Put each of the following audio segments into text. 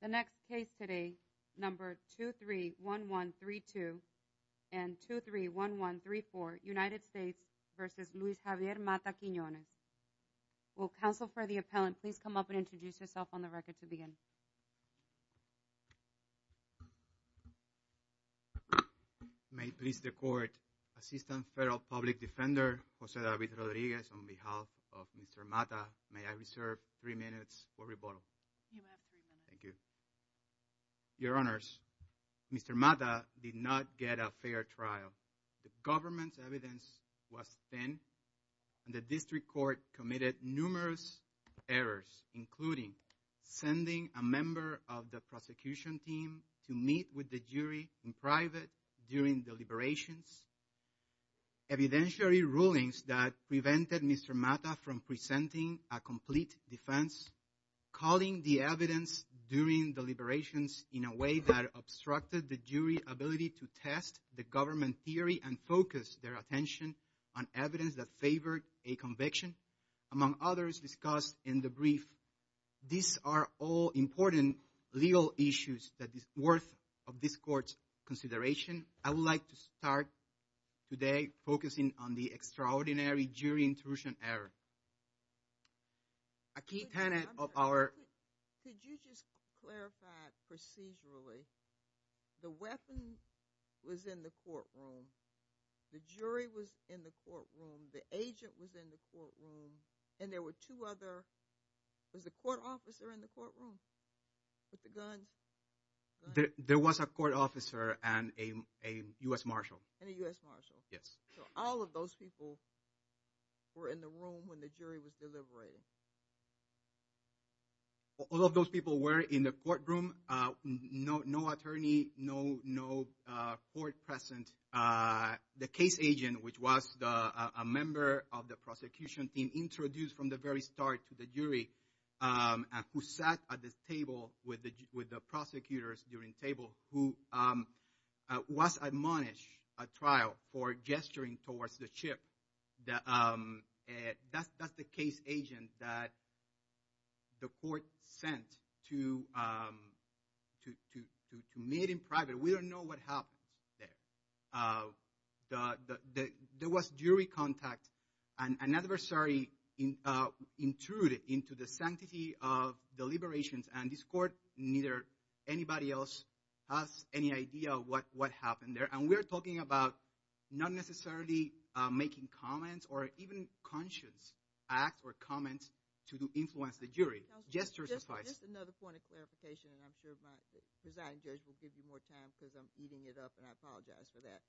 The next case today, number 231132 and 231134, United States v. Luis Javier Matta-Quinones. Will counsel for the appellant please come up and introduce yourself on the record to begin. May it please the court, Assistant Federal Public Defender, Jose David Rodriguez, on behalf of Mr. Matta, may I reserve three minutes for rebuttal. You may have three minutes. Thank you. Your Honors, Mr. Matta did not get a fair trial. The government's evidence was thin and the district court committed numerous errors, including sending a member of the prosecution team to meet with the jury in private during deliberations, evidentiary rulings that prevented Mr. Matta from presenting a complete defense, calling the evidence during deliberations in a way that obstructed the jury ability to test the government theory and focus their attention on evidence that favored a conviction, among others discussed in the brief. These are all important legal issues that is worth of this court's consideration. I would like to start today focusing on the extraordinary jury intrusion error. A key tenet of our – Could you just clarify procedurally the weapon was in the courtroom, the jury was in the courtroom, the agent was in the courtroom, and there were two other – was the court officer in the courtroom with the guns? There was a court officer and a U.S. Marshal. And a U.S. Marshal. Yes. So all of those people were in the room when the jury was deliberating. All of those people were in the courtroom, no attorney, no court present. The case agent, which was a member of the prosecution team, introduced from the very start to the jury, who sat at the table with the prosecutors during table, who was admonished at trial for gesturing towards the chip. That's the case agent that the court sent to meet in private. We don't know what happened there. There was jury contact and an adversary intruded into the sanctity of deliberations, and this court, neither anybody else has any idea what happened there. And we are talking about not necessarily making comments or even conscious acts or comments to influence the jury. Just another point of clarification, and I'm sure my presiding judge will give you more time because I'm eating it up, and I apologize for that.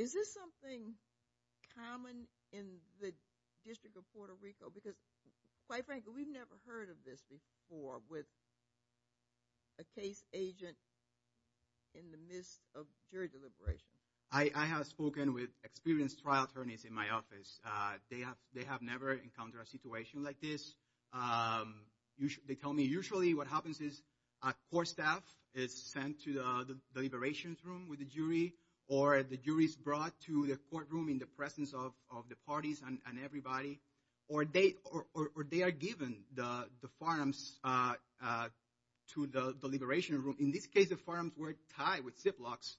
Is this something common in the District of Puerto Rico? Because, quite frankly, we've never heard of this before with a case agent in the midst of jury deliberation. I have spoken with experienced trial attorneys in my office. They have never encountered a situation like this. They tell me usually what happens is a court staff is sent to the deliberations room with the jury, or the jury is brought to the courtroom in the presence of the parties and everybody, or they are given the forums to the deliberations room. In this case, the forums were tied with zip locks.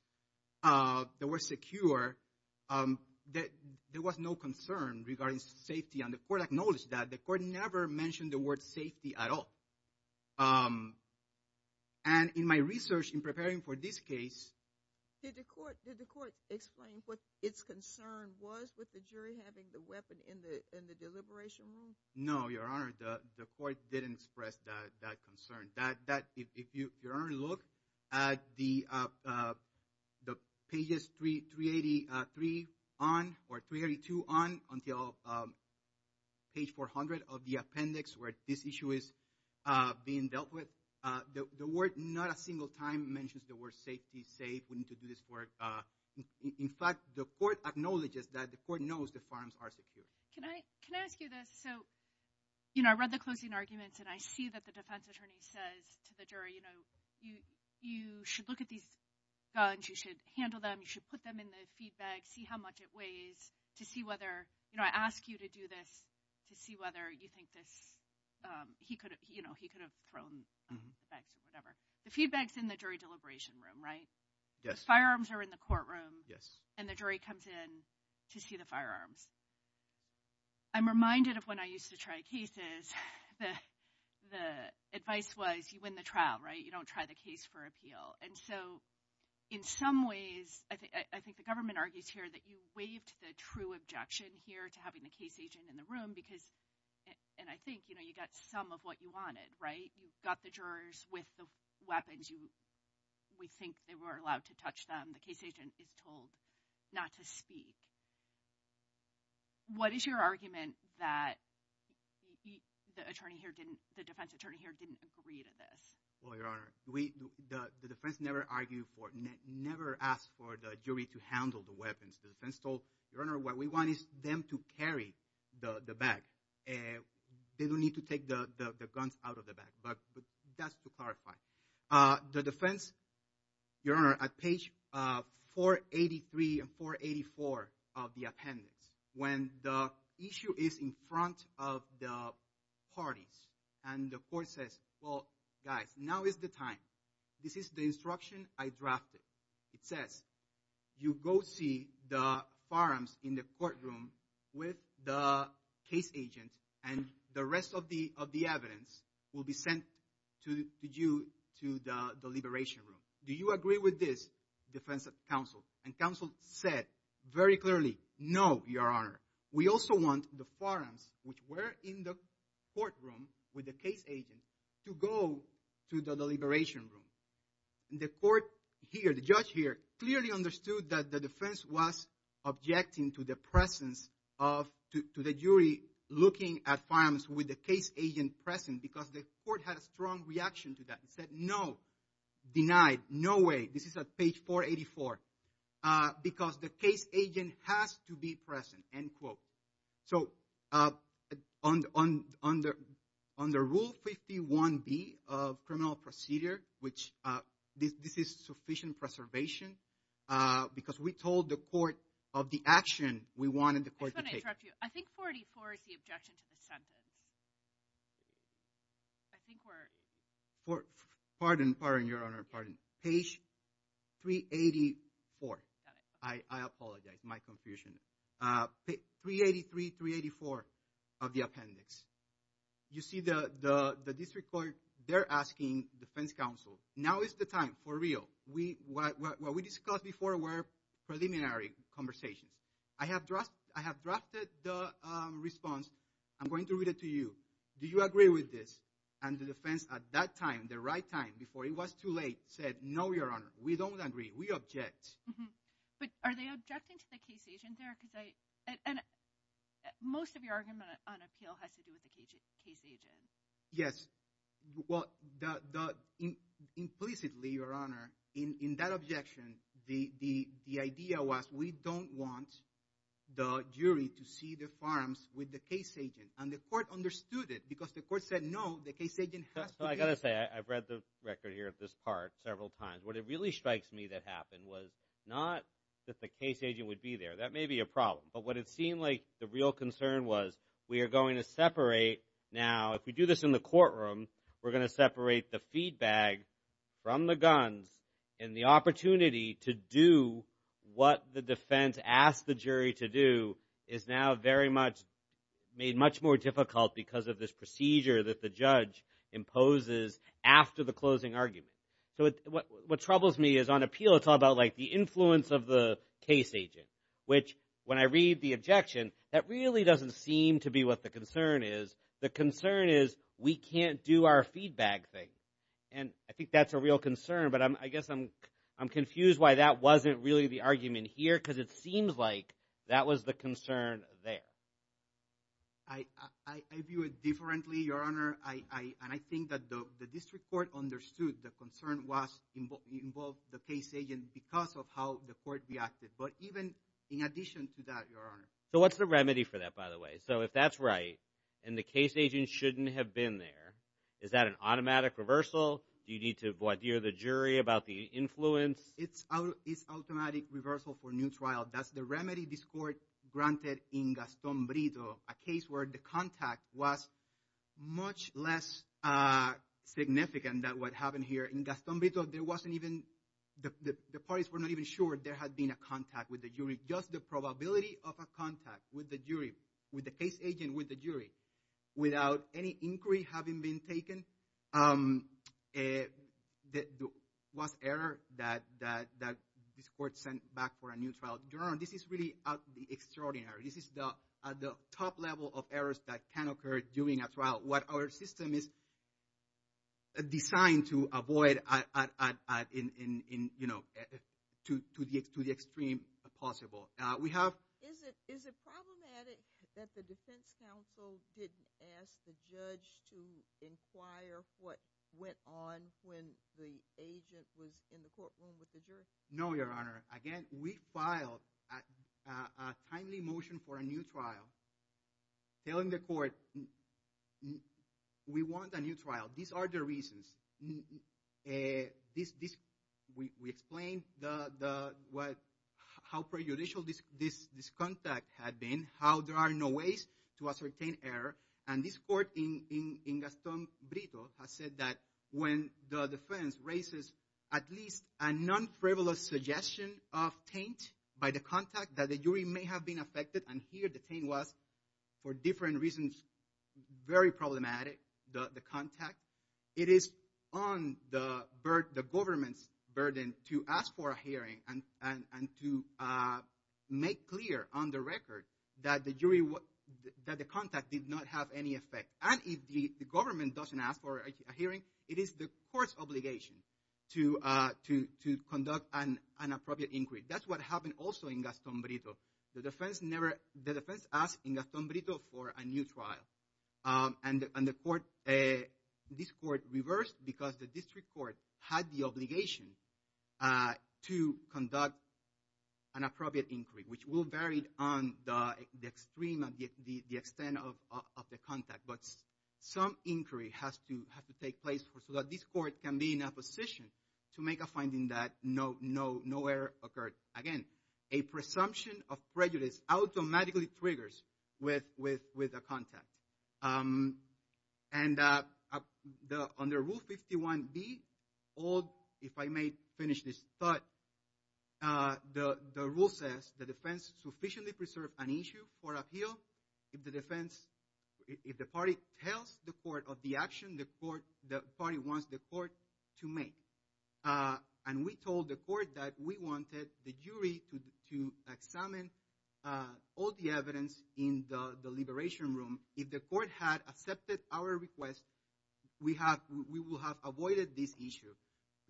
They were secure. There was no concern regarding safety, and the court acknowledged that. The court never mentioned the word safety at all. And in my research in preparing for this case… Did the court explain what its concern was with the jury having the weapon in the deliberations room? No, Your Honor. The court didn't express that concern. Your Honor, look at the pages 383 on or 382 on until page 400 of the appendix where this issue is being dealt with. The word not a single time mentions the word safety, safe. We need to do this work. In fact, the court acknowledges that the court knows the forums are secure. Can I ask you this? So, you know, I read the closing arguments, and I see that the defense attorney says to the jury, you know, you should look at these guns. You should handle them. You should put them in the feed bag, see how much it weighs to see whether, you know, I ask you to do this to see whether you think he could have thrown the bags or whatever. The feed bag is in the jury deliberations room, right? The firearms are in the courtroom, and the jury comes in to see the firearms. I'm reminded of when I used to try cases, the advice was you win the trial, right? You don't try the case for appeal. And so, in some ways, I think the government argues here that you waived the true objection here to having the case agent in the room because, and I think, you know, you got some of what you wanted, right? You got the jurors with the weapons. We think they were allowed to touch them. The case agent is told not to speak. What is your argument that the defense attorney here didn't agree to this? Well, Your Honor, the defense never asked for the jury to handle the weapons. The defense told, Your Honor, what we want is them to carry the bag. They don't need to take the guns out of the bag, but that's to clarify. The defense, Your Honor, at page 483 and 484 of the appendix, when the issue is in front of the parties, and the court says, well, guys, now is the time. This is the instruction I drafted. It says, you go see the forums in the courtroom with the case agent, and the rest of the evidence will be sent to you to the deliberation room. Do you agree with this, defense counsel? And counsel said very clearly, no, Your Honor. We also want the forums, which were in the courtroom with the case agent, to go to the deliberation room. The court here, the judge here, clearly understood that the defense was objecting to the presence of, to the jury looking at forums with the case agent present because the court had a strong reaction to that. It said, no, denied, no way. This is at page 484 because the case agent has to be present, end quote. So on the Rule 51B of criminal procedure, which this is sufficient preservation, because we told the court of the action we wanted the court to take. I just want to interrupt you. I think 484 is the objection to the sentence. I think we're – Pardon, Your Honor, pardon. Page 384. I apologize. My confusion. 383, 384 of the appendix. You see the district court, they're asking defense counsel, now is the time, for real. What we discussed before were preliminary conversations. I have drafted the response. I'm going to read it to you. Do you agree with this? And the defense at that time, the right time, before it was too late, said, no, Your Honor, we don't agree. We object. But are they objecting to the case agent there? Most of your argument on appeal has to do with the case agent. Yes. Well, implicitly, Your Honor, in that objection, the idea was we don't want the jury to see the farms with the case agent. And the court understood it because the court said, no, the case agent has to be present. I've got to say, I've read the record here of this part several times. What it really strikes me that happened was not that the case agent would be there. That may be a problem. But what it seemed like the real concern was we are going to separate. Now, if we do this in the courtroom, we're going to separate the feedback from the guns, and the opportunity to do what the defense asked the jury to do is now very much made much more difficult because of this procedure that the judge imposes after the closing argument. So what troubles me is on appeal, it's all about, like, the influence of the case agent, which when I read the objection, that really doesn't seem to be what the concern is. The concern is we can't do our feedback thing. And I think that's a real concern, but I guess I'm confused why that wasn't really the argument here because it seems like that was the concern there. I view it differently, Your Honor. And I think that the district court understood the concern involved the case agent because of how the court reacted. But even in addition to that, Your Honor. So what's the remedy for that, by the way? So if that's right and the case agent shouldn't have been there, is that an automatic reversal? Do you need to void the jury about the influence? It's automatic reversal for new trial. That's the remedy this court granted in Gaston Brito, a case where the contact was much less significant than what happened here. In Gaston Brito, the parties were not even sure there had been a contact with the jury. Just the probability of a contact with the jury, with the case agent, with the jury, Your Honor, this is really extraordinary. This is the top level of errors that can occur during a trial. What our system is designed to avoid to the extreme possible. Is it problematic that the defense counsel didn't ask the judge to inquire what went on when the agent was in the courtroom with the jury? No, Your Honor. Again, we filed a timely motion for a new trial telling the court we want a new trial. These are the reasons. We explained how prejudicial this contact had been, how there are no ways to ascertain error. And this court in Gaston Brito has said that when the defense raises at least a non-frivolous suggestion of taint by the contact, that the jury may have been affected and here the taint was, for different reasons, very problematic, the contact. It is on the government's burden to ask for a hearing and to make clear on the record that the contact did not have any effect. And if the government doesn't ask for a hearing, it is the court's obligation to conduct an appropriate inquiry. That's what happened also in Gaston Brito. The defense asked in Gaston Brito for a new trial. And this court reversed because the district court had the obligation to conduct an appropriate inquiry, which will vary on the extreme and the extent of the contact. But some inquiry has to take place so that this court can be in a position to make a finding that no error occurred. Again, a presumption of prejudice automatically triggers with a contact. And under Rule 51B, if I may finish this thought, the rule says the defense sufficiently preserved an issue for appeal. If the defense, if the party tells the court of the action the court, the party wants the court to make. And we told the court that we wanted the jury to examine all the evidence in the liberation room. If the court had accepted our request, we will have avoided this issue.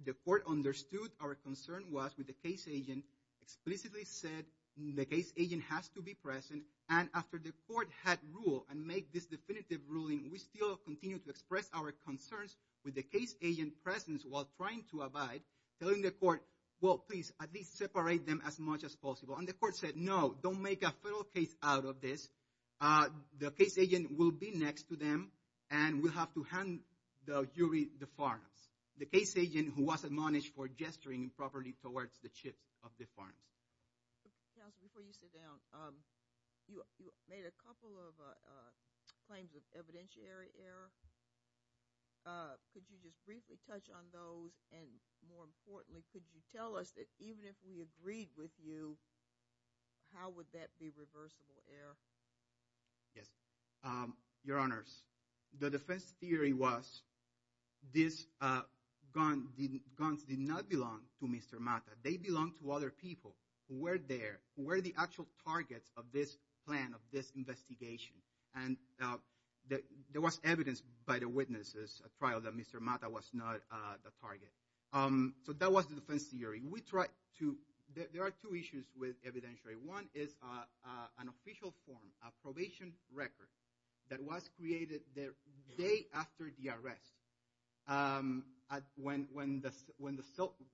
The court understood our concern was with the case agent, explicitly said the case agent has to be present. And after the court had ruled and made this definitive ruling, we still continue to express our concerns with the case agent presence while trying to abide, telling the court, well, please, at least separate them as much as possible. And the court said, no, don't make a federal case out of this. The case agent will be next to them, and we'll have to hand the jury the farms. The case agent who was admonished for gesturing improperly towards the chips of the farms. Before you sit down, you made a couple of claims of evidentiary error. Could you just briefly touch on those? And more importantly, could you tell us that even if we agreed with you? How would that be reversible error? Yes, your honors, the defense theory was this gun guns did not belong to Mr. Mata. They belong to other people who were there, who were the actual targets of this plan, of this investigation. And there was evidence by the witnesses, a trial that Mr. Mata was not the target. So that was the defense theory. We tried to, there are two issues with evidentiary. One is an official form, a probation record that was created the day after the arrest. When the,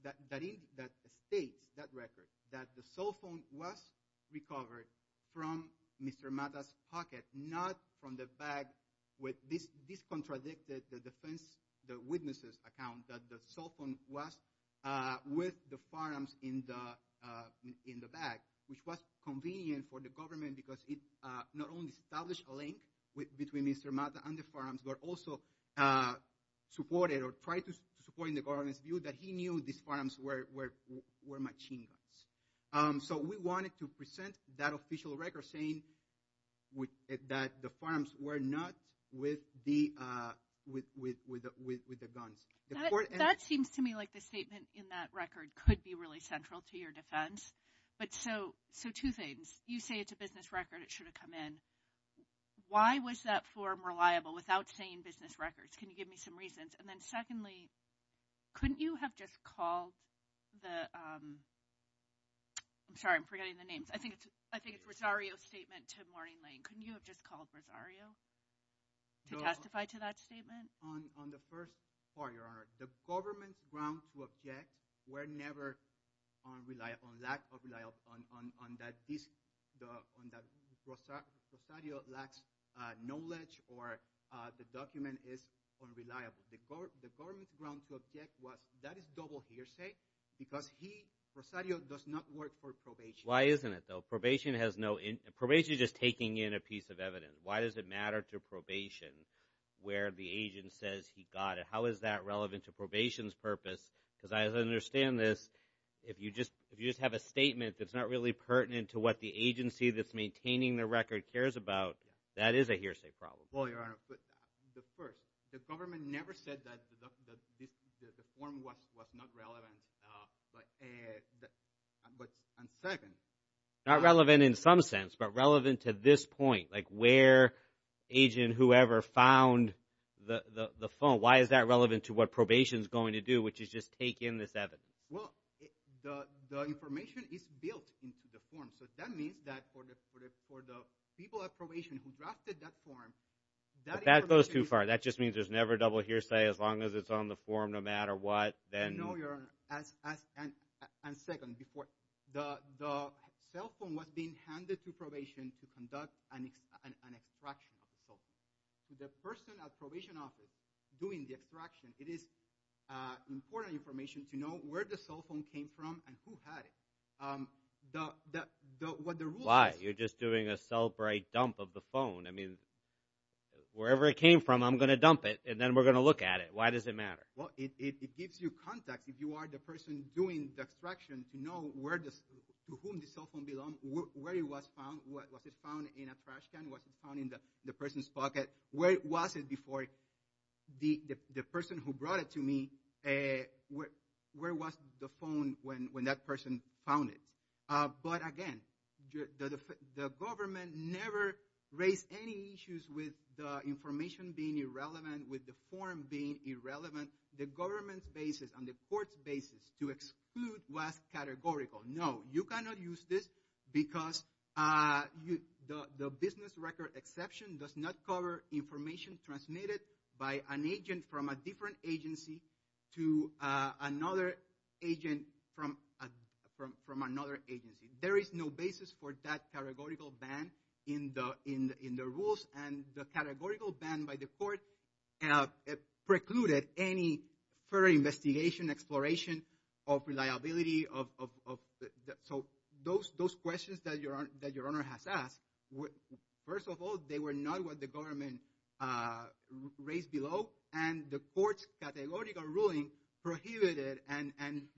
that states, that record, that the cell phone was recovered from Mr. Mata's pocket, not from the bag. This contradicted the defense, the witnesses account that the cell phone was with the farms in the bag, which was convenient for the government because it not only established a link between Mr. Mata and the farm, but it also supported or tried to support the government's view that he knew these farms were machine guns. So we wanted to present that official record saying that the farms were not with the guns. That seems to me like the statement in that record could be really central to your defense. But so, so two things. You say it's a business record. It should have come in. Why was that form reliable without saying business records? Can you give me some reasons? And then secondly, couldn't you have just called the, I'm sorry, I'm forgetting the names. I think it's Rosario's statement to Morning Lane. Couldn't you have just called Rosario to testify to that statement? On the first part, Your Honor, the government's grounds to object were never on lack of reliability on that this, on that Rosario lacks knowledge or the document is unreliable. The government's grounds to object was that is double hearsay because he, Rosario, does not work for probation. Why isn't it, though? Probation has no, probation is just taking in a piece of evidence. Why does it matter to probation where the agent says he got it? How is that relevant to probation's purpose? Because I understand this. If you just have a statement that's not really pertinent to what the agency that's maintaining the record cares about, that is a hearsay problem. Well, Your Honor, the first, the government never said that the form was not relevant. But, and second. Not relevant in some sense, but relevant to this point, like where agent whoever found the phone. Why is that relevant to what probation's going to do, which is just take in this evidence? Well, the information is built into the form. So that means that for the people at probation who drafted that form, that information. But that goes too far. That just means there's never double hearsay as long as it's on the form no matter what. No, Your Honor. And second, the cell phone was being handed to probation to conduct an extraction of the cell phone. The person at probation office doing the extraction, it is important information to know where the cell phone came from and who had it. What the rule is. Why? You're just doing a cell break dump of the phone. I mean, wherever it came from, I'm going to dump it, and then we're going to look at it. Why does it matter? Well, it gives you context if you are the person doing the extraction to know to whom the cell phone belonged, where it was found. Was it found in a trash can? Was it found in the person's pocket? Where was it before the person who brought it to me, where was the phone when that person found it? But again, the government never raised any issues with the information being irrelevant, with the form being irrelevant. The government's basis and the court's basis to exclude was categorical. No, you cannot use this because the business record exception does not cover information transmitted by an agent from a different agency to another agent from another agency. There is no basis for that categorical ban in the rules. And the categorical ban by the court precluded any further investigation, exploration of reliability. So those questions that Your Honor has asked, first of all, they were not what the government raised below. And the court's categorical ruling prohibited and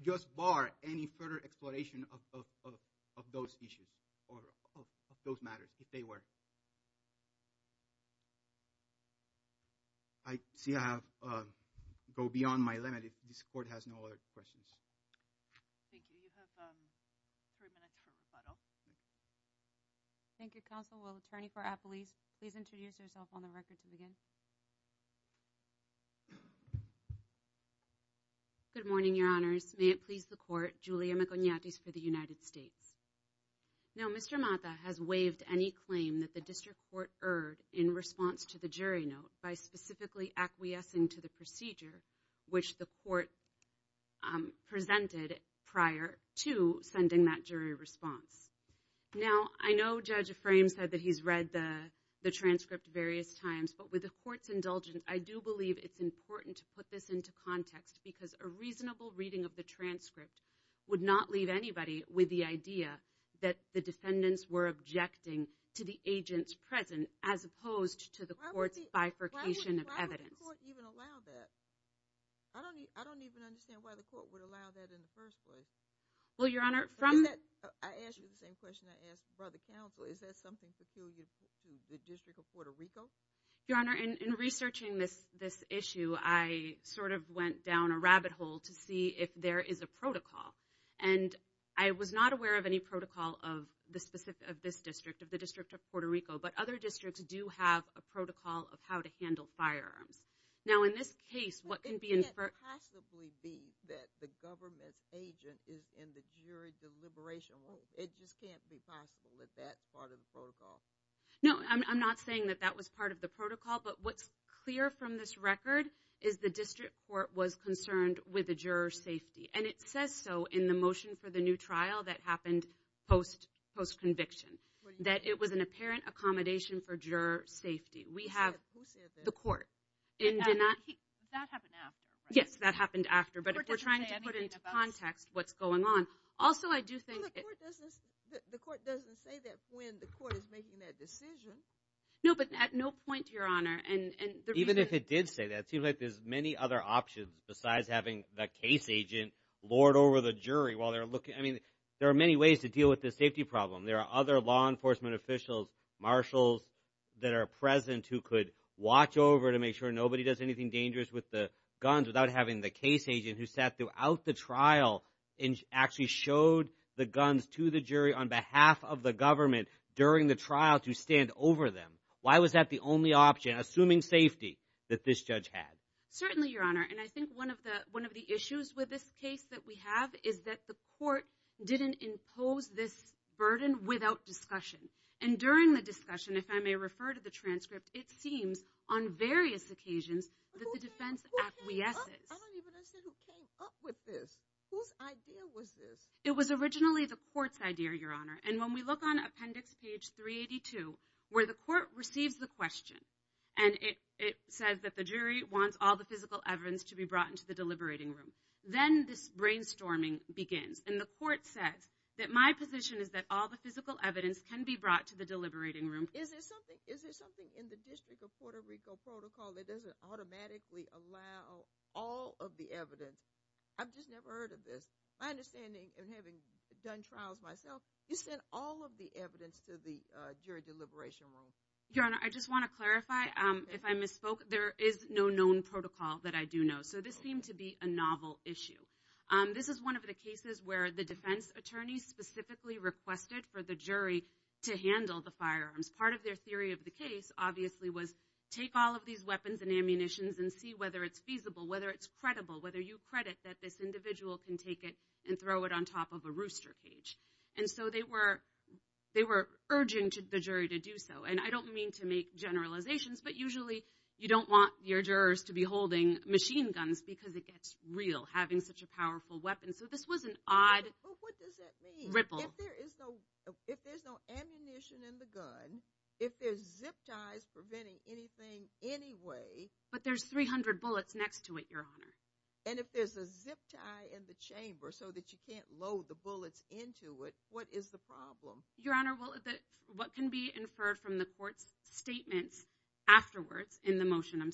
just barred any further exploration of those issues or of those matters if they were. I see I have gone beyond my limit. This court has no other questions. Thank you. You have three minutes for rebuttal. Thank you, counsel. Please introduce yourself on the record to begin. Good morning, Your Honors. May it please the court, Julia Maconiatis for the United States. Now, Mr. Mata has waived any claim that the district court erred in response to the jury note by specifically acquiescing to the procedure which the court presented prior to sending that jury response. Now, I know Judge Aframes said that he's read the transcript various times. But with the court's indulgence, I do believe it's important to put this into context because a reasonable reading of the transcript would not leave anybody with the idea that the defendants were objecting to the agents present as opposed to the court's bifurcation of evidence. Why would the court even allow that? I don't even understand why the court would allow that in the first place. I ask you the same question I asked Brother Counsel. Is that something peculiar to the District of Puerto Rico? Your Honor, in researching this issue, I sort of went down a rabbit hole to see if there is a protocol. And I was not aware of any protocol of this district, of the District of Puerto Rico. But other districts do have a protocol of how to handle firearms. It can't possibly be that the government's agent is in the jury deliberation room. It just can't be possible that that's part of the protocol. No, I'm not saying that that was part of the protocol. But what's clear from this record is the district court was concerned with the juror's safety. And it says so in the motion for the new trial that happened post-conviction, that it was an apparent accommodation for juror safety. Who said that? The court. Did that happen after? Yes, that happened after. But we're trying to put into context what's going on. Also, I do think— Well, the court doesn't say that when the court is making that decision. No, but at no point, Your Honor, and the reason— Even if it did say that, it seems like there's many other options besides having the case agent lord over the jury while they're looking. I mean, there are many ways to deal with this safety problem. There are other law enforcement officials, marshals that are present who could watch over to make sure nobody does anything dangerous with the guns without having the case agent who sat throughout the trial and actually showed the guns to the jury on behalf of the government during the trial to stand over them. Why was that the only option, assuming safety, that this judge had? Certainly, Your Honor, and I think one of the issues with this case that we have is that the court didn't impose this burden without discussion. And during the discussion, if I may refer to the transcript, it seems on various occasions that the defense acquiesces. I don't even understand who came up with this. Whose idea was this? It was originally the court's idea, Your Honor. And when we look on appendix page 382, where the court receives the question, and it says that the jury wants all the physical evidence to be brought into the deliberating room, then this brainstorming begins, and the court says that my position is that all the physical evidence can be brought to the deliberating room. Is there something in the District of Puerto Rico protocol that doesn't automatically allow all of the evidence? I've just never heard of this. My understanding, and having done trials myself, you sent all of the evidence to the jury deliberation room. Your Honor, I just want to clarify, if I misspoke, there is no known protocol that I do know. So this seemed to be a novel issue. This is one of the cases where the defense attorney specifically requested for the jury to handle the firearms. Part of their theory of the case, obviously, was take all of these weapons and ammunitions and see whether it's feasible, whether it's credible, whether you credit that this individual can take it and throw it on top of a rooster cage. And so they were urging the jury to do so. And I don't mean to make generalizations, but usually you don't want your jurors to be holding machine guns because it gets real, having such a powerful weapon. So this was an odd ripple. But what does that mean? If there's no ammunition in the gun, if there's zip ties preventing anything anyway... But there's 300 bullets next to it, Your Honor. And if there's a zip tie in the chamber so that you can't load the bullets into it, what is the problem? Your Honor, what can be inferred from the court's statements afterwards in the motion,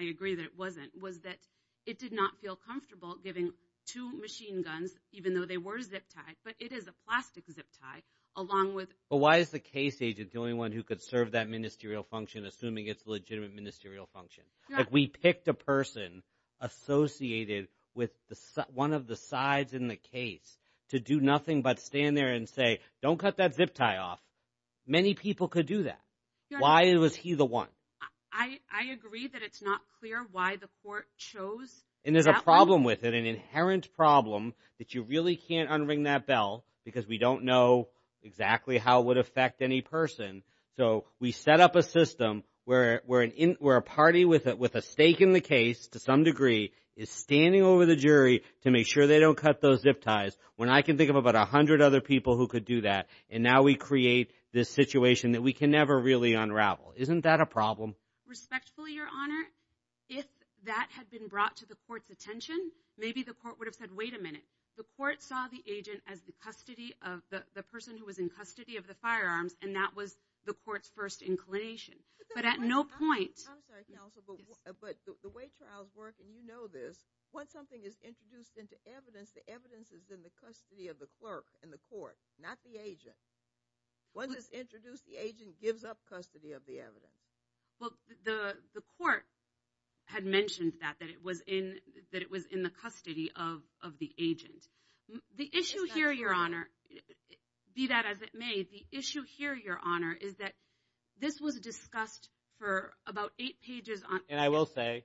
I agree that it wasn't, was that it did not feel comfortable giving two machine guns, even though they were zip tied, but it is a plastic zip tie, along with... But why is the case agent the only one who could serve that ministerial function, assuming it's a legitimate ministerial function? We picked a person associated with one of the sides in the case to do nothing but stand there and say, don't cut that zip tie off. Many people could do that. Why was he the one? I agree that it's not clear why the court chose that one. But the problem with it, an inherent problem, that you really can't unring that bell because we don't know exactly how it would affect any person. So we set up a system where a party with a stake in the case, to some degree, is standing over the jury to make sure they don't cut those zip ties, when I can think of about 100 other people who could do that. And now we create this situation that we can never really unravel. Isn't that a problem? So respectfully, Your Honor, if that had been brought to the court's attention, maybe the court would have said, wait a minute. The court saw the agent as the person who was in custody of the firearms, and that was the court's first inclination. But at no point... I'm sorry, counsel, but the way trials work, and you know this, once something is introduced into evidence, the evidence is in the custody of the clerk in the court, not the agent. Once it's introduced, the agent gives up custody of the evidence. Well, the court had mentioned that, that it was in the custody of the agent. The issue here, Your Honor, be that as it may, the issue here, Your Honor, is that this was discussed for about eight pages on... And I will say,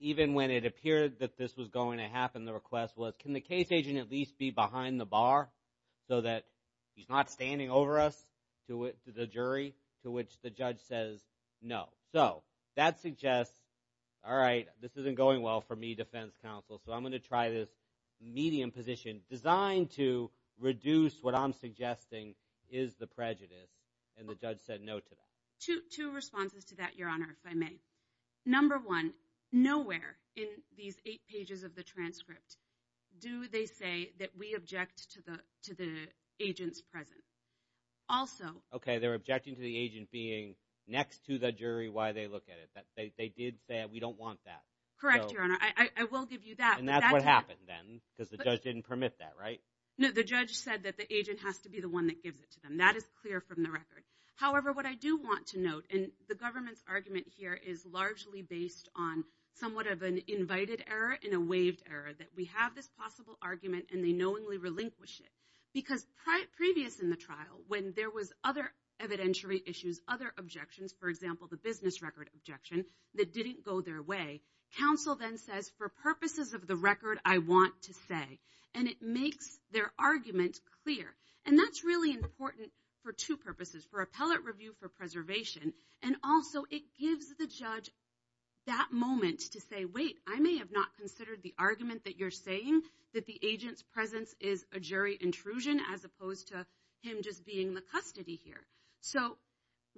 even when it appeared that this was going to happen, the request was, can the case agent at least be behind the bar so that he's not standing over us, the jury, to which the judge says no. So that suggests, all right, this isn't going well for me, defense counsel, so I'm going to try this medium position designed to reduce what I'm suggesting is the prejudice, and the judge said no to that. Two responses to that, Your Honor, if I may. Number one, nowhere in these eight pages of the transcript do they say that we object to the agent's presence. Also... Okay, they're objecting to the agent being next to the jury while they look at it. They did say, we don't want that. Correct, Your Honor. I will give you that. And that's what happened then, because the judge didn't permit that, right? No, the judge said that the agent has to be the one that gives it to them. That is clear from the record. However, what I do want to note, and the government's argument here is largely based on somewhat of an invited error and a waived error, that we have this possible argument and they knowingly relinquish it. Because previous in the trial, when there was other evidentiary issues, other objections, for example, the business record objection that didn't go their way, counsel then says, for purposes of the record, I want to say. And it makes their argument clear. And that's really important for two purposes, for appellate review, for preservation. And also, it gives the judge that moment to say, wait, I may have not considered the argument that you're saying, that the agent's presence is a jury intrusion as opposed to him just being the custody here. So,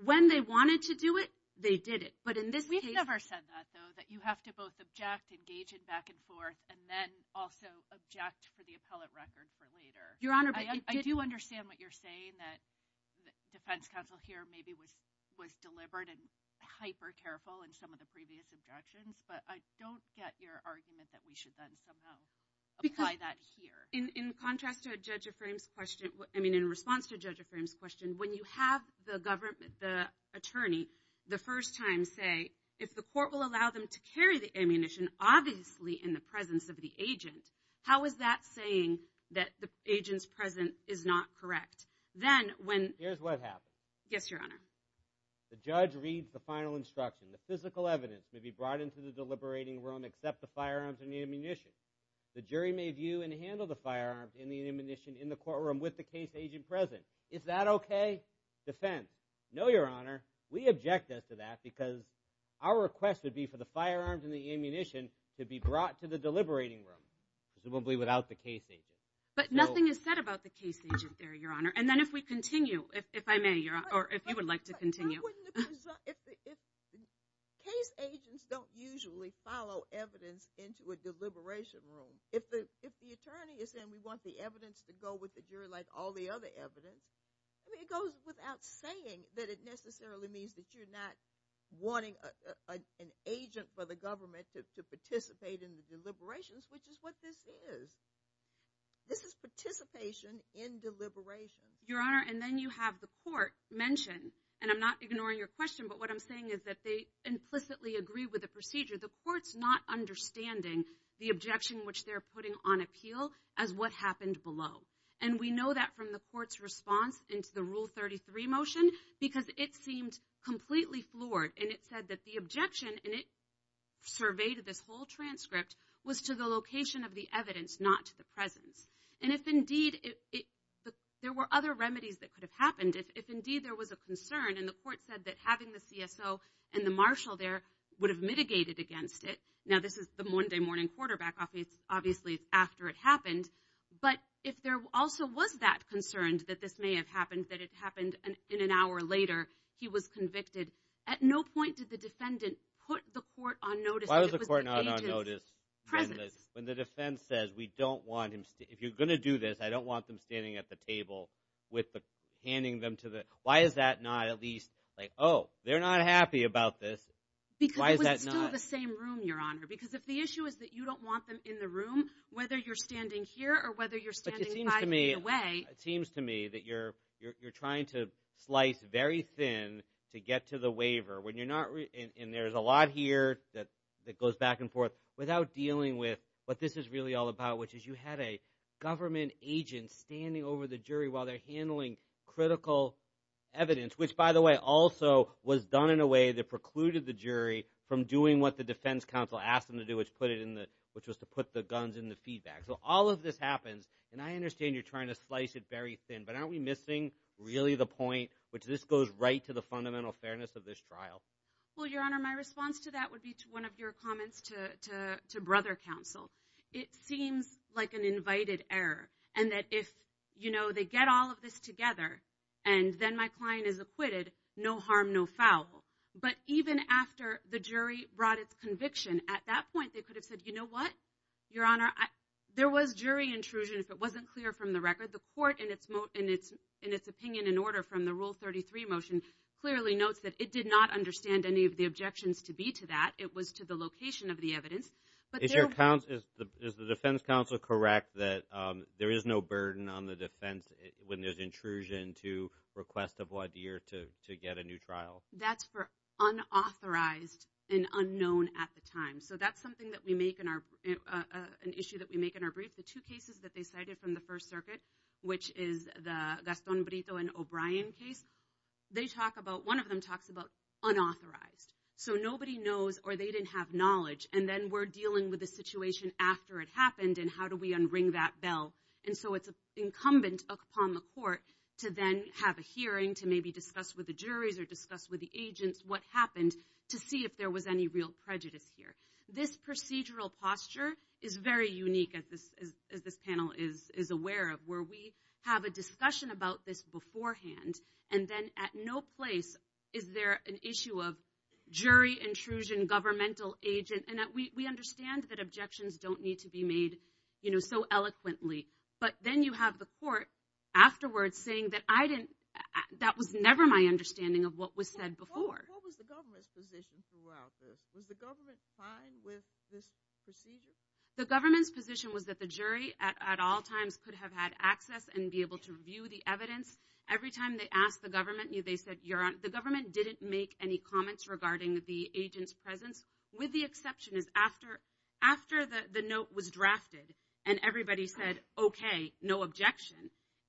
when they wanted to do it, they did it. But in this case... We've never said that, though, that you have to both object, engage it back and forth, and then also object for the appellate record for later. Your Honor, I do understand what you're saying, that defense counsel here maybe was deliberate and hyper careful in some of the previous objections. But I don't get your argument that we should then somehow apply that here. In contrast to Judge Afram's question, I mean, in response to Judge Afram's question, when you have the government, the attorney, the first time say, if the court will allow them to carry the ammunition, obviously in the presence of the agent, how is that saying that the agent's presence is not correct? Then, when... Here's what happened. Yes, Your Honor. The judge reads the final instruction. The physical evidence may be brought into the deliberating room except the firearms and the ammunition. The jury may view and handle the firearms and the ammunition in the courtroom with the case agent present. Is that okay? Defend. No, Your Honor. We object to that because our request would be for the firearms and the ammunition to be brought to the deliberating room, presumably without the case agent. But nothing is said about the case agent there, Your Honor. And then if we continue, if I may, Your Honor, or if you would like to continue. If case agents don't usually follow evidence into a deliberation room, if the attorney is saying we want the evidence to go with the jury like all the other evidence, I mean, it goes without saying that it necessarily means that you're not wanting an agent for the government to participate in the deliberations, which is what this is. This is participation in deliberation. Your Honor, and then you have the court mention, and I'm not ignoring your question, but what I'm saying is that they implicitly agree with the procedure. The court's not understanding the objection which they're putting on appeal as what happened below. And we know that from the court's response into the Rule 33 motion because it seemed completely floored. And it said that the objection, and it surveyed this whole transcript, was to the location of the evidence, not to the presence. And if indeed there were other remedies that could have happened, if indeed there was a concern, and the court said that having the CSO and the marshal there would have mitigated against it. Now, this is the Monday morning quarterback. Obviously, it's after it happened. But if there also was that concern that this may have happened, that it happened in an hour later, he was convicted. At no point did the defendant put the court on notice that it was the agent's presence. When the defense says, we don't want him – if you're going to do this, I don't want them standing at the table with the – handing them to the – why is that not at least like, oh, they're not happy about this. Why is that not – Because it was still the same room, Your Honor. Because if the issue is that you don't want them in the room, whether you're standing here or whether you're standing five feet away – But it seems to me – it seems to me that you're trying to slice very thin to get to the waiver. When you're not – and there's a lot here that goes back and forth without dealing with what this is really all about, which is you had a government agent standing over the jury while they're handling critical evidence, which, by the way, also was done in a way that precluded the jury from doing what the defense counsel asked them to do, which put it in the – which was to put the guns in the feedback. So all of this happens. And I understand you're trying to slice it very thin. But aren't we missing really the point, which this goes right to the fundamental fairness of this trial? Well, Your Honor, my response to that would be to one of your comments to brother counsel. It seems like an invited error and that if, you know, they get all of this together and then my client is acquitted, no harm, no foul. But even after the jury brought its conviction, at that point they could have said, you know what, Your Honor, there was jury intrusion if it wasn't clear from the record. The court, in its opinion and order from the Rule 33 motion, clearly notes that it did not understand any of the objections to be to that. It was to the location of the evidence. Is the defense counsel correct that there is no burden on the defense when there's intrusion to request a blood year to get a new trial? That's for unauthorized and unknown at the time. So that's something that we make in our an issue that we make in our brief. The two cases that they cited from the First Circuit, which is the Gaston Brito and O'Brien case, they talk about one of them talks about unauthorized. So nobody knows or they didn't have knowledge. And then we're dealing with the situation after it happened. And how do we unring that bell? And so it's incumbent upon the court to then have a hearing to maybe discuss with the juries or discuss with the agents what happened to see if there was any real prejudice here. This procedural posture is very unique, as this panel is aware of, where we have a discussion about this beforehand. And then at no place is there an issue of jury intrusion, governmental agent. And we understand that objections don't need to be made, you know, so eloquently. But then you have the court afterwards saying that I didn't – that was never my understanding of what was said before. What was the government's position throughout this? Was the government fine with this procedure? The government's position was that the jury at all times could have had access and be able to review the evidence. Every time they asked the government, they said, the government didn't make any comments regarding the agent's presence, with the exception is after the note was drafted and everybody said, okay, no objection,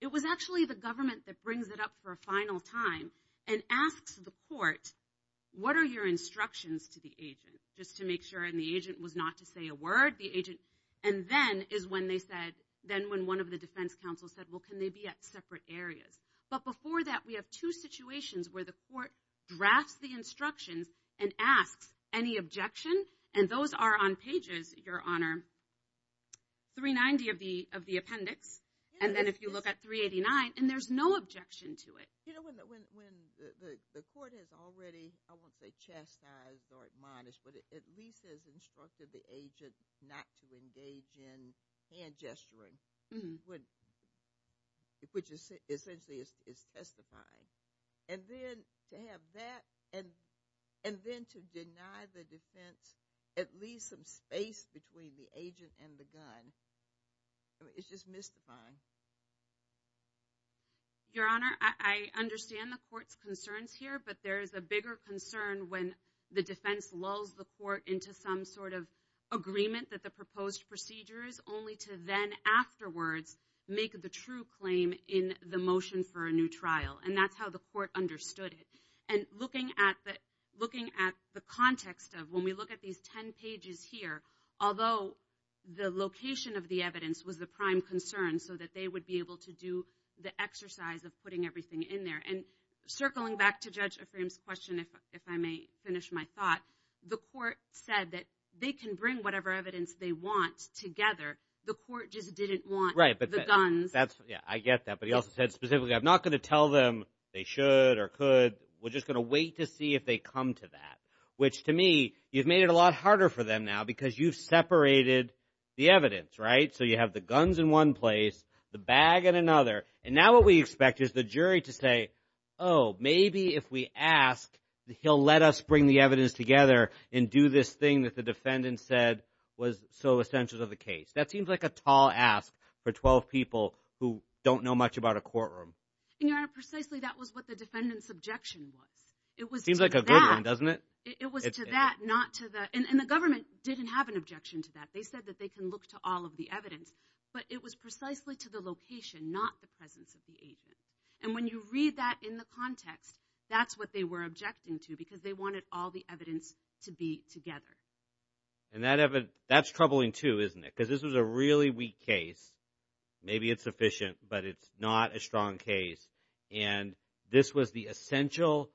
it was actually the government that brings it up for a final time and asks the court, what are your instructions to the agent, just to make sure the agent was not to say a word. And then is when they said – then when one of the defense counsels said, well, can they be at separate areas? But before that, we have two situations where the court drafts the instructions and asks any objection. And those are on pages, Your Honor, 390 of the appendix. And then if you look at 389, and there's no objection to it. You know, when the court has already, I won't say chastised or admonished, but at least has instructed the agent not to engage in hand gesturing, which essentially is testifying, and then to have that and then to deny the defense at least some space between the agent and the gun, it's just mystifying. Your Honor, I understand the court's concerns here, but there is a bigger concern when the defense lulls the court into some sort of agreement that the proposed procedure is only to then afterwards make the true claim in the motion for a new trial. And that's how the court understood it. And looking at the context of when we look at these ten pages here, although the location of the evidence was the prime concern so that they would be able to do the exercise of putting everything in there. And circling back to Judge Ephraim's question, if I may finish my thought, the court said that they can bring whatever evidence they want together. The court just didn't want the guns. I get that. But he also said specifically, I'm not going to tell them they should or could. We're just going to wait to see if they come to that, which to me, you've made it a lot harder for them now because you've separated the evidence, right? So you have the guns in one place, the bag in another. And now what we expect is the jury to say, oh, maybe if we ask, he'll let us bring the evidence together and do this thing that the defendant said was so essential to the case. That seems like a tall ask for 12 people who don't know much about a courtroom. And, Your Honor, precisely that was what the defendant's objection was. It seems like a good one, doesn't it? It was to that, not to that. And the government didn't have an objection to that. They said that they can look to all of the evidence. But it was precisely to the location, not the presence of the agent. And when you read that in the context, that's what they were objecting to because they wanted all the evidence to be together. And that's troubling too, isn't it? Because this was a really weak case. Maybe it's sufficient, but it's not a strong case. And this was the essential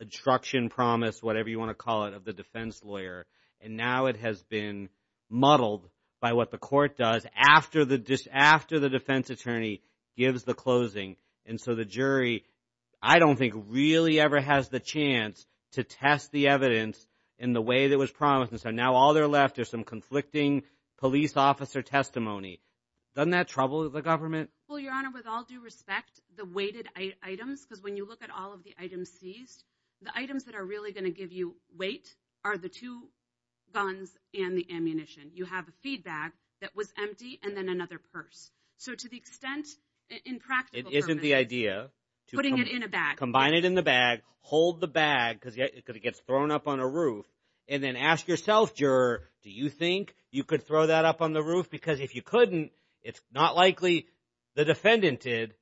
instruction, promise, whatever you want to call it, of the defense lawyer. And now it has been muddled by what the court does after the defense attorney gives the closing. And so the jury, I don't think, really ever has the chance to test the evidence in the way that was promised. And so now all they're left is some conflicting police officer testimony. Doesn't that trouble the government? Well, Your Honor, with all due respect, the weighted items, because when you look at all of the items seized, the items that are really going to give you weight are the two guns and the ammunition. You have a feed bag that was empty and then another purse. So to the extent, in practical terms— It isn't the idea to— Putting it in a bag. Combine it in the bag, hold the bag because it gets thrown up on a roof, and then ask yourself, juror, do you think you could throw that up on the roof? Because if you couldn't, it's not likely the defendant did,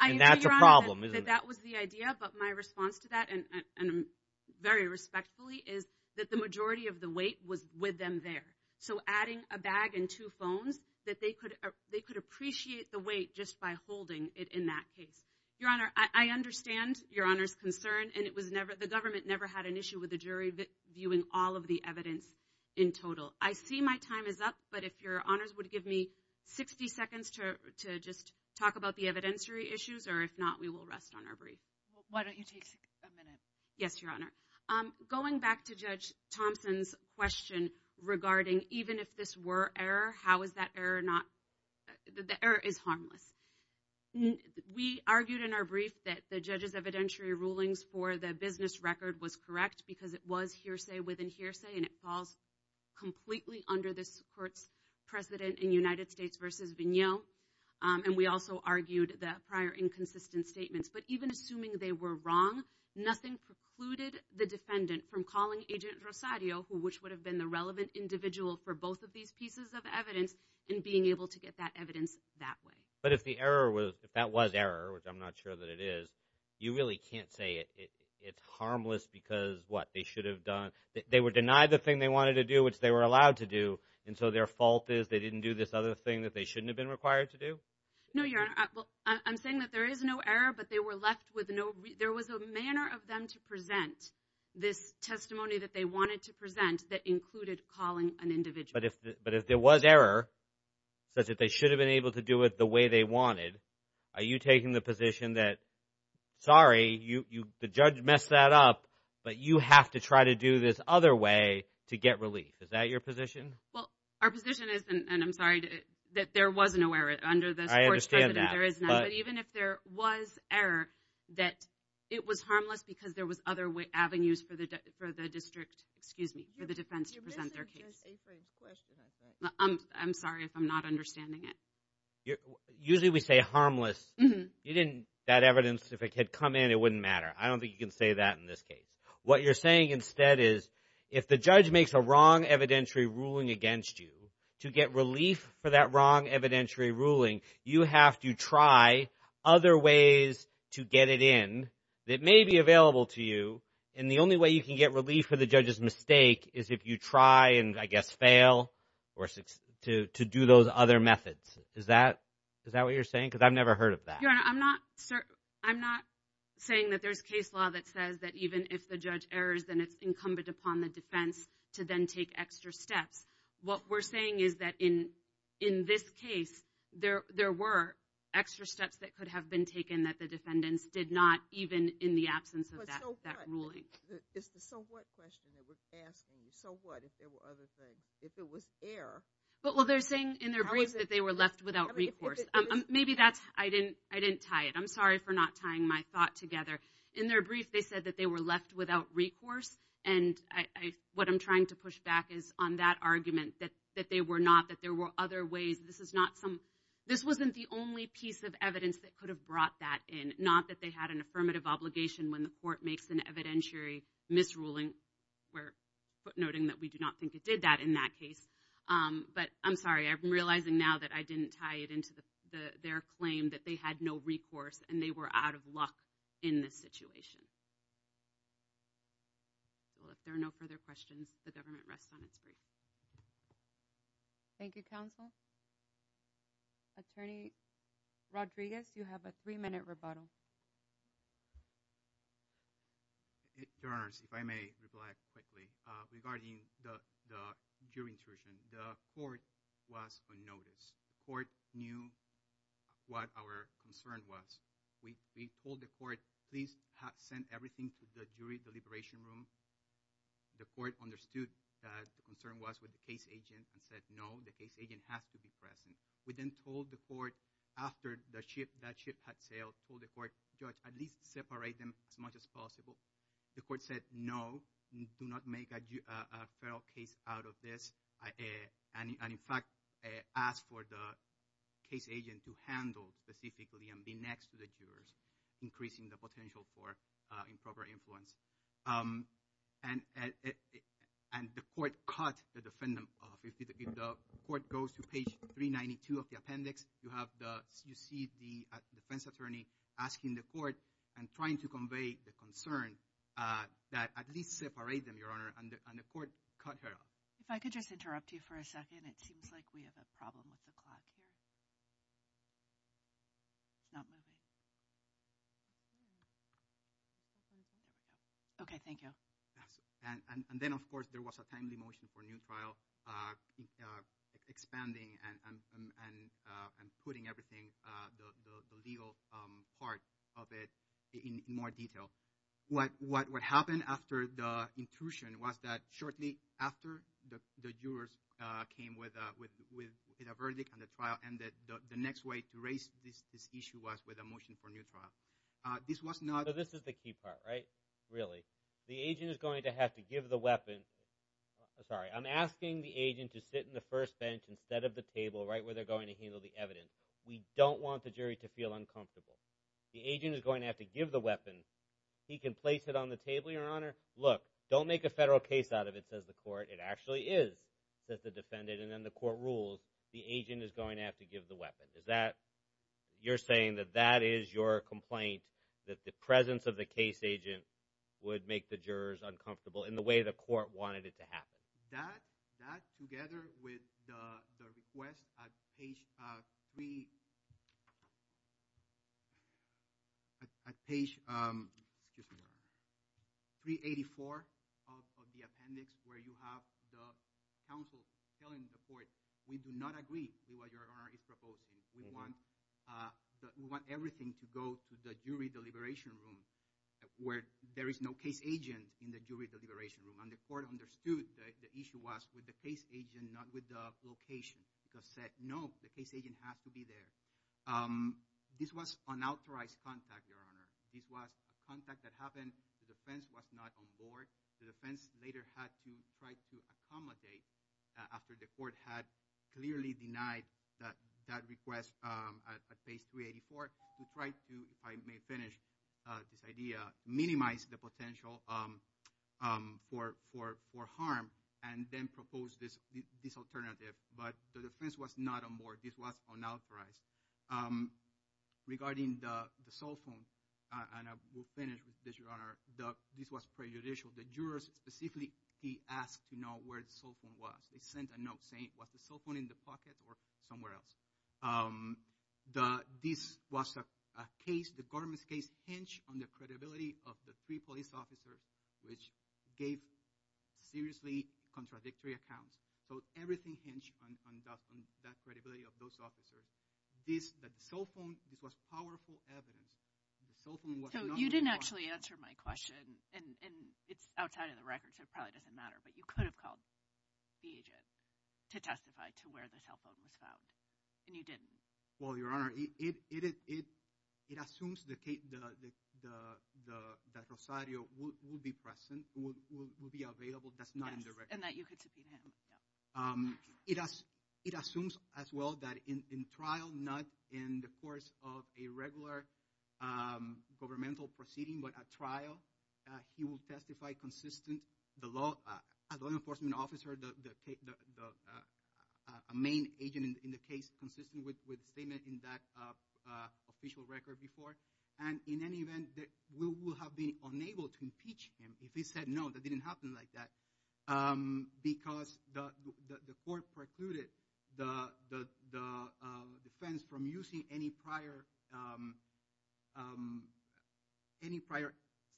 and that's a problem, isn't it? I agree, Your Honor, that that was the idea. But my response to that, and very respectfully, is that the majority of the weight was with them there. So adding a bag and two phones, that they could appreciate the weight just by holding it in that case. Your Honor, I understand Your Honor's concern, and it was never— the government never had an issue with the jury viewing all of the evidence in total. I see my time is up, but if Your Honors would give me 60 seconds to just talk about the evidentiary issues, or if not, we will rest on our brief. Why don't you take a minute? Yes, Your Honor. Going back to Judge Thompson's question regarding even if this were error, how is that error not— The error is harmless. We argued in our brief that the judge's evidentiary rulings for the business record was correct because it was hearsay within hearsay, and it falls completely under this court's precedent in United States v. Vigneault. And we also argued the prior inconsistent statements. But even assuming they were wrong, nothing precluded the defendant from calling Agent Rosario, which would have been the relevant individual for both of these pieces of evidence, and being able to get that evidence that way. But if the error was—if that was error, which I'm not sure that it is, you really can't say it's harmless because, what, they should have done— they were denied the thing they wanted to do, which they were allowed to do, and so their fault is they didn't do this other thing that they shouldn't have been required to do? No, Your Honor. I'm saying that there is no error, but they were left with no— there was a manner of them to present this testimony that they wanted to present that included calling an individual. But if there was error, such that they should have been able to do it the way they wanted, are you taking the position that, sorry, the judge messed that up, but you have to try to do this other way to get relief? Is that your position? Well, our position is—and I'm sorry, that there was no error. Under this court's precedent, there is none. But even if there was error, that it was harmless because there was other avenues for the district— excuse me, for the defense to present their case. Your business is a French question, I think. I'm sorry if I'm not understanding it. Usually we say harmless. You didn't—that evidence, if it had come in, it wouldn't matter. I don't think you can say that in this case. What you're saying instead is if the judge makes a wrong evidentiary ruling against you, to get relief for that wrong evidentiary ruling, you have to try other ways to get it in that may be available to you. And the only way you can get relief for the judge's mistake is if you try and, I guess, fail to do those other methods. Is that what you're saying? Because I've never heard of that. Your Honor, I'm not saying that there's case law that says that even if the judge errors, then it's incumbent upon the defense to then take extra steps. What we're saying is that in this case, there were extra steps that could have been taken that the defendants did not, even in the absence of that ruling. It's the so what question that we're asking. So what if there were other things? If it was error— Well, they're saying in their brief that they were left without recourse. Maybe that's—I didn't tie it. I'm sorry for not tying my thought together. In their brief, they said that they were left without recourse, and what I'm trying to push back is on that argument that they were not, that there were other ways. This is not some—this wasn't the only piece of evidence that could have brought that in, not that they had an affirmative obligation when the court makes an evidentiary misruling. We're noting that we do not think it did that in that case. But I'm sorry. I'm realizing now that I didn't tie it into their claim that they had no recourse and they were out of luck in this situation. Well, if there are no further questions, the government rests on its brief. Thank you, counsel. Attorney Rodriguez, you have a three-minute rebuttal. Your Honors, if I may reply quickly. Regarding the jury intrusion, the court was on notice. The court knew what our concern was. We told the court, please send everything to the jury deliberation room. The court understood that the concern was with the case agent and said, no, the case agent has to be present. We then told the court, after that ship had sailed, told the court, judge, at least separate them as much as possible. The court said, no, do not make a federal case out of this, and in fact asked for the case agent to handle specifically and be next to the jurors, increasing the potential for improper influence. And the court cut the defendant off. If the court goes to page 392 of the appendix, you see the defense attorney asking the court and trying to convey the concern that at least separate them, Your Honor, and the court cut her off. If I could just interrupt you for a second. It seems like we have a problem with the clock here. It's not moving. Okay, thank you. And then, of course, there was a timely motion for a new trial, expanding and putting everything, the legal part of it in more detail. What happened after the intrusion was that shortly after the jurors came with a verdict on the trial and the next way to raise this issue was with a motion for a new trial. This was not. So this is the key part, right, really. The agent is going to have to give the weapon. Sorry, I'm asking the agent to sit in the first bench instead of the table, right where they're going to handle the evidence. We don't want the jury to feel uncomfortable. The agent is going to have to give the weapon. He can place it on the table, Your Honor. Look, don't make a federal case out of it, says the court. It actually is, says the defendant. And then the court rules the agent is going to have to give the weapon. Is that you're saying that that is your complaint, that the presence of the case agent would make the jurors uncomfortable in the way the court wanted it to happen? That together with the request at page 384 of the appendix where you have the counsel telling the court, we do not agree with what Your Honor is proposing. We want everything to go to the jury deliberation room where there is no case agent in the jury deliberation room. And the court understood the issue was with the case agent, not with the location, because said, no, the case agent has to be there. This was unauthorized contact, Your Honor. This was a contact that happened. The defense was not on board. The defense later had to try to accommodate after the court had clearly denied that request at page 384 to try to, if I may finish this idea, minimize the potential for harm and then propose this alternative. But the defense was not on board. This was unauthorized. Regarding the cell phone, and I will finish with this, Your Honor. This was prejudicial. The jurors specifically asked to know where the cell phone was. They sent a note saying, was the cell phone in the pocket or somewhere else? This was a case, the government's case, hinged on the credibility of the three police officers which gave seriously contradictory accounts. So everything hinged on that credibility of those officers. This, the cell phone, this was powerful evidence. So you didn't actually answer my question, and it's outside of the record so it probably doesn't matter, but you could have called the agent to testify to where the cell phone was found, and you didn't. Well, Your Honor, it assumes that Rosario will be present, will be available, that's not in the record. Yes, and that you could subpoena him. It assumes as well that in trial, not in the course of a regular governmental proceeding, but at trial he will testify consistent, the law enforcement officer, a main agent in the case, consistent with the statement in that official record before, and in any event that we will have been unable to impeach him if he said no, that didn't happen like that, because the court precluded the defense from using any prior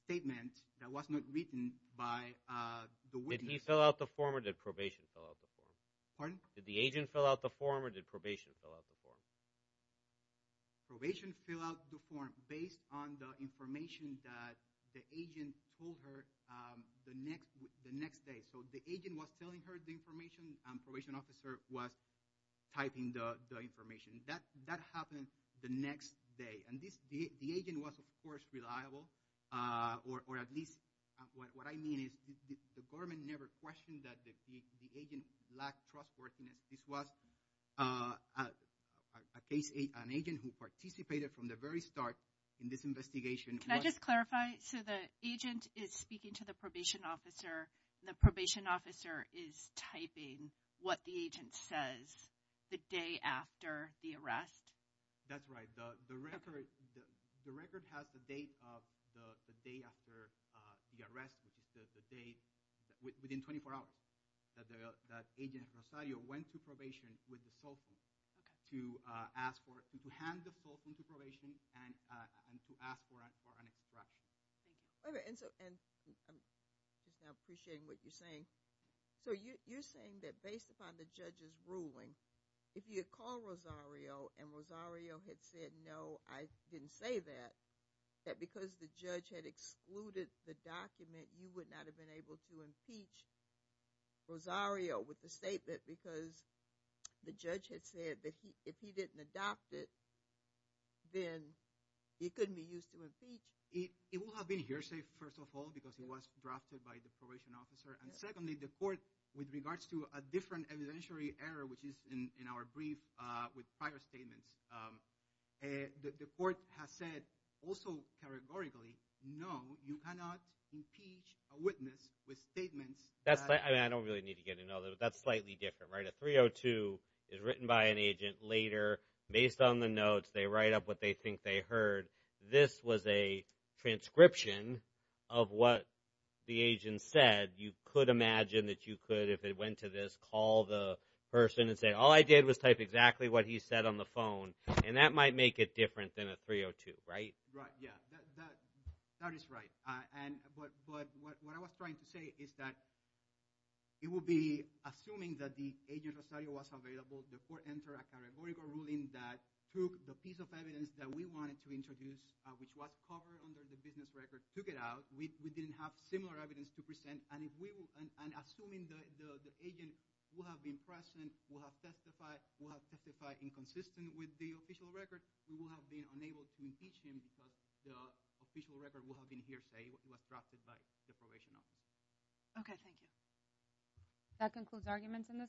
statement that was not written by the witness. Did he fill out the form or did probation fill out the form? Pardon? Did the agent fill out the form or did probation fill out the form? Probation filled out the form based on the information that the agent told her the next day. So the agent was telling her the information, probation officer was typing the information. That happened the next day. And the agent was, of course, reliable, or at least what I mean is the government never questioned that the agent lacked trustworthiness. This was an agent who participated from the very start in this investigation. Can I just clarify? So the agent is speaking to the probation officer, and the probation officer is typing what the agent says the day after the arrest? That's right. The record has the date of the day after the arrest, which is the date within 24 hours that agent Rosario went to probation with the cell phone to ask for, to hand the cell phone to probation and to ask for an instruction. Okay. And I'm appreciating what you're saying. So you're saying that based upon the judge's ruling, if you had called Rosario and Rosario had said, no, I didn't say that, that because the judge had excluded the document, you would not have been able to impeach Rosario with the statement because the judge had said that if he didn't adopt it, then he couldn't be used to impeach. It would have been hearsay, first of all, because it was drafted by the probation officer. And secondly, the court, with regards to a different evidentiary error, which is in our brief with prior statements, the court has said also categorically, no, you cannot impeach a witness with statements. I don't really need to get into all that, but that's slightly different, right? The 302 is written by an agent later. Based on the notes, they write up what they think they heard. This was a transcription of what the agent said. You could imagine that you could, if it went to this, call the person and say, all I did was type exactly what he said on the phone. And that might make it different than a 302, right? Right, yeah. That is right. But what I was trying to say is that it would be, assuming that the agent Rosario was available, the court entered a categorical ruling that took the piece of evidence that we wanted to introduce, which was covered under the business record, took it out. We didn't have similar evidence to present. And assuming the agent would have been present, would have testified, would have testified inconsistent with the official record, we would have been unable to impeach him because the official record would have been hearsay. It was drafted by the probation office. Okay, thank you. That concludes arguments in this case.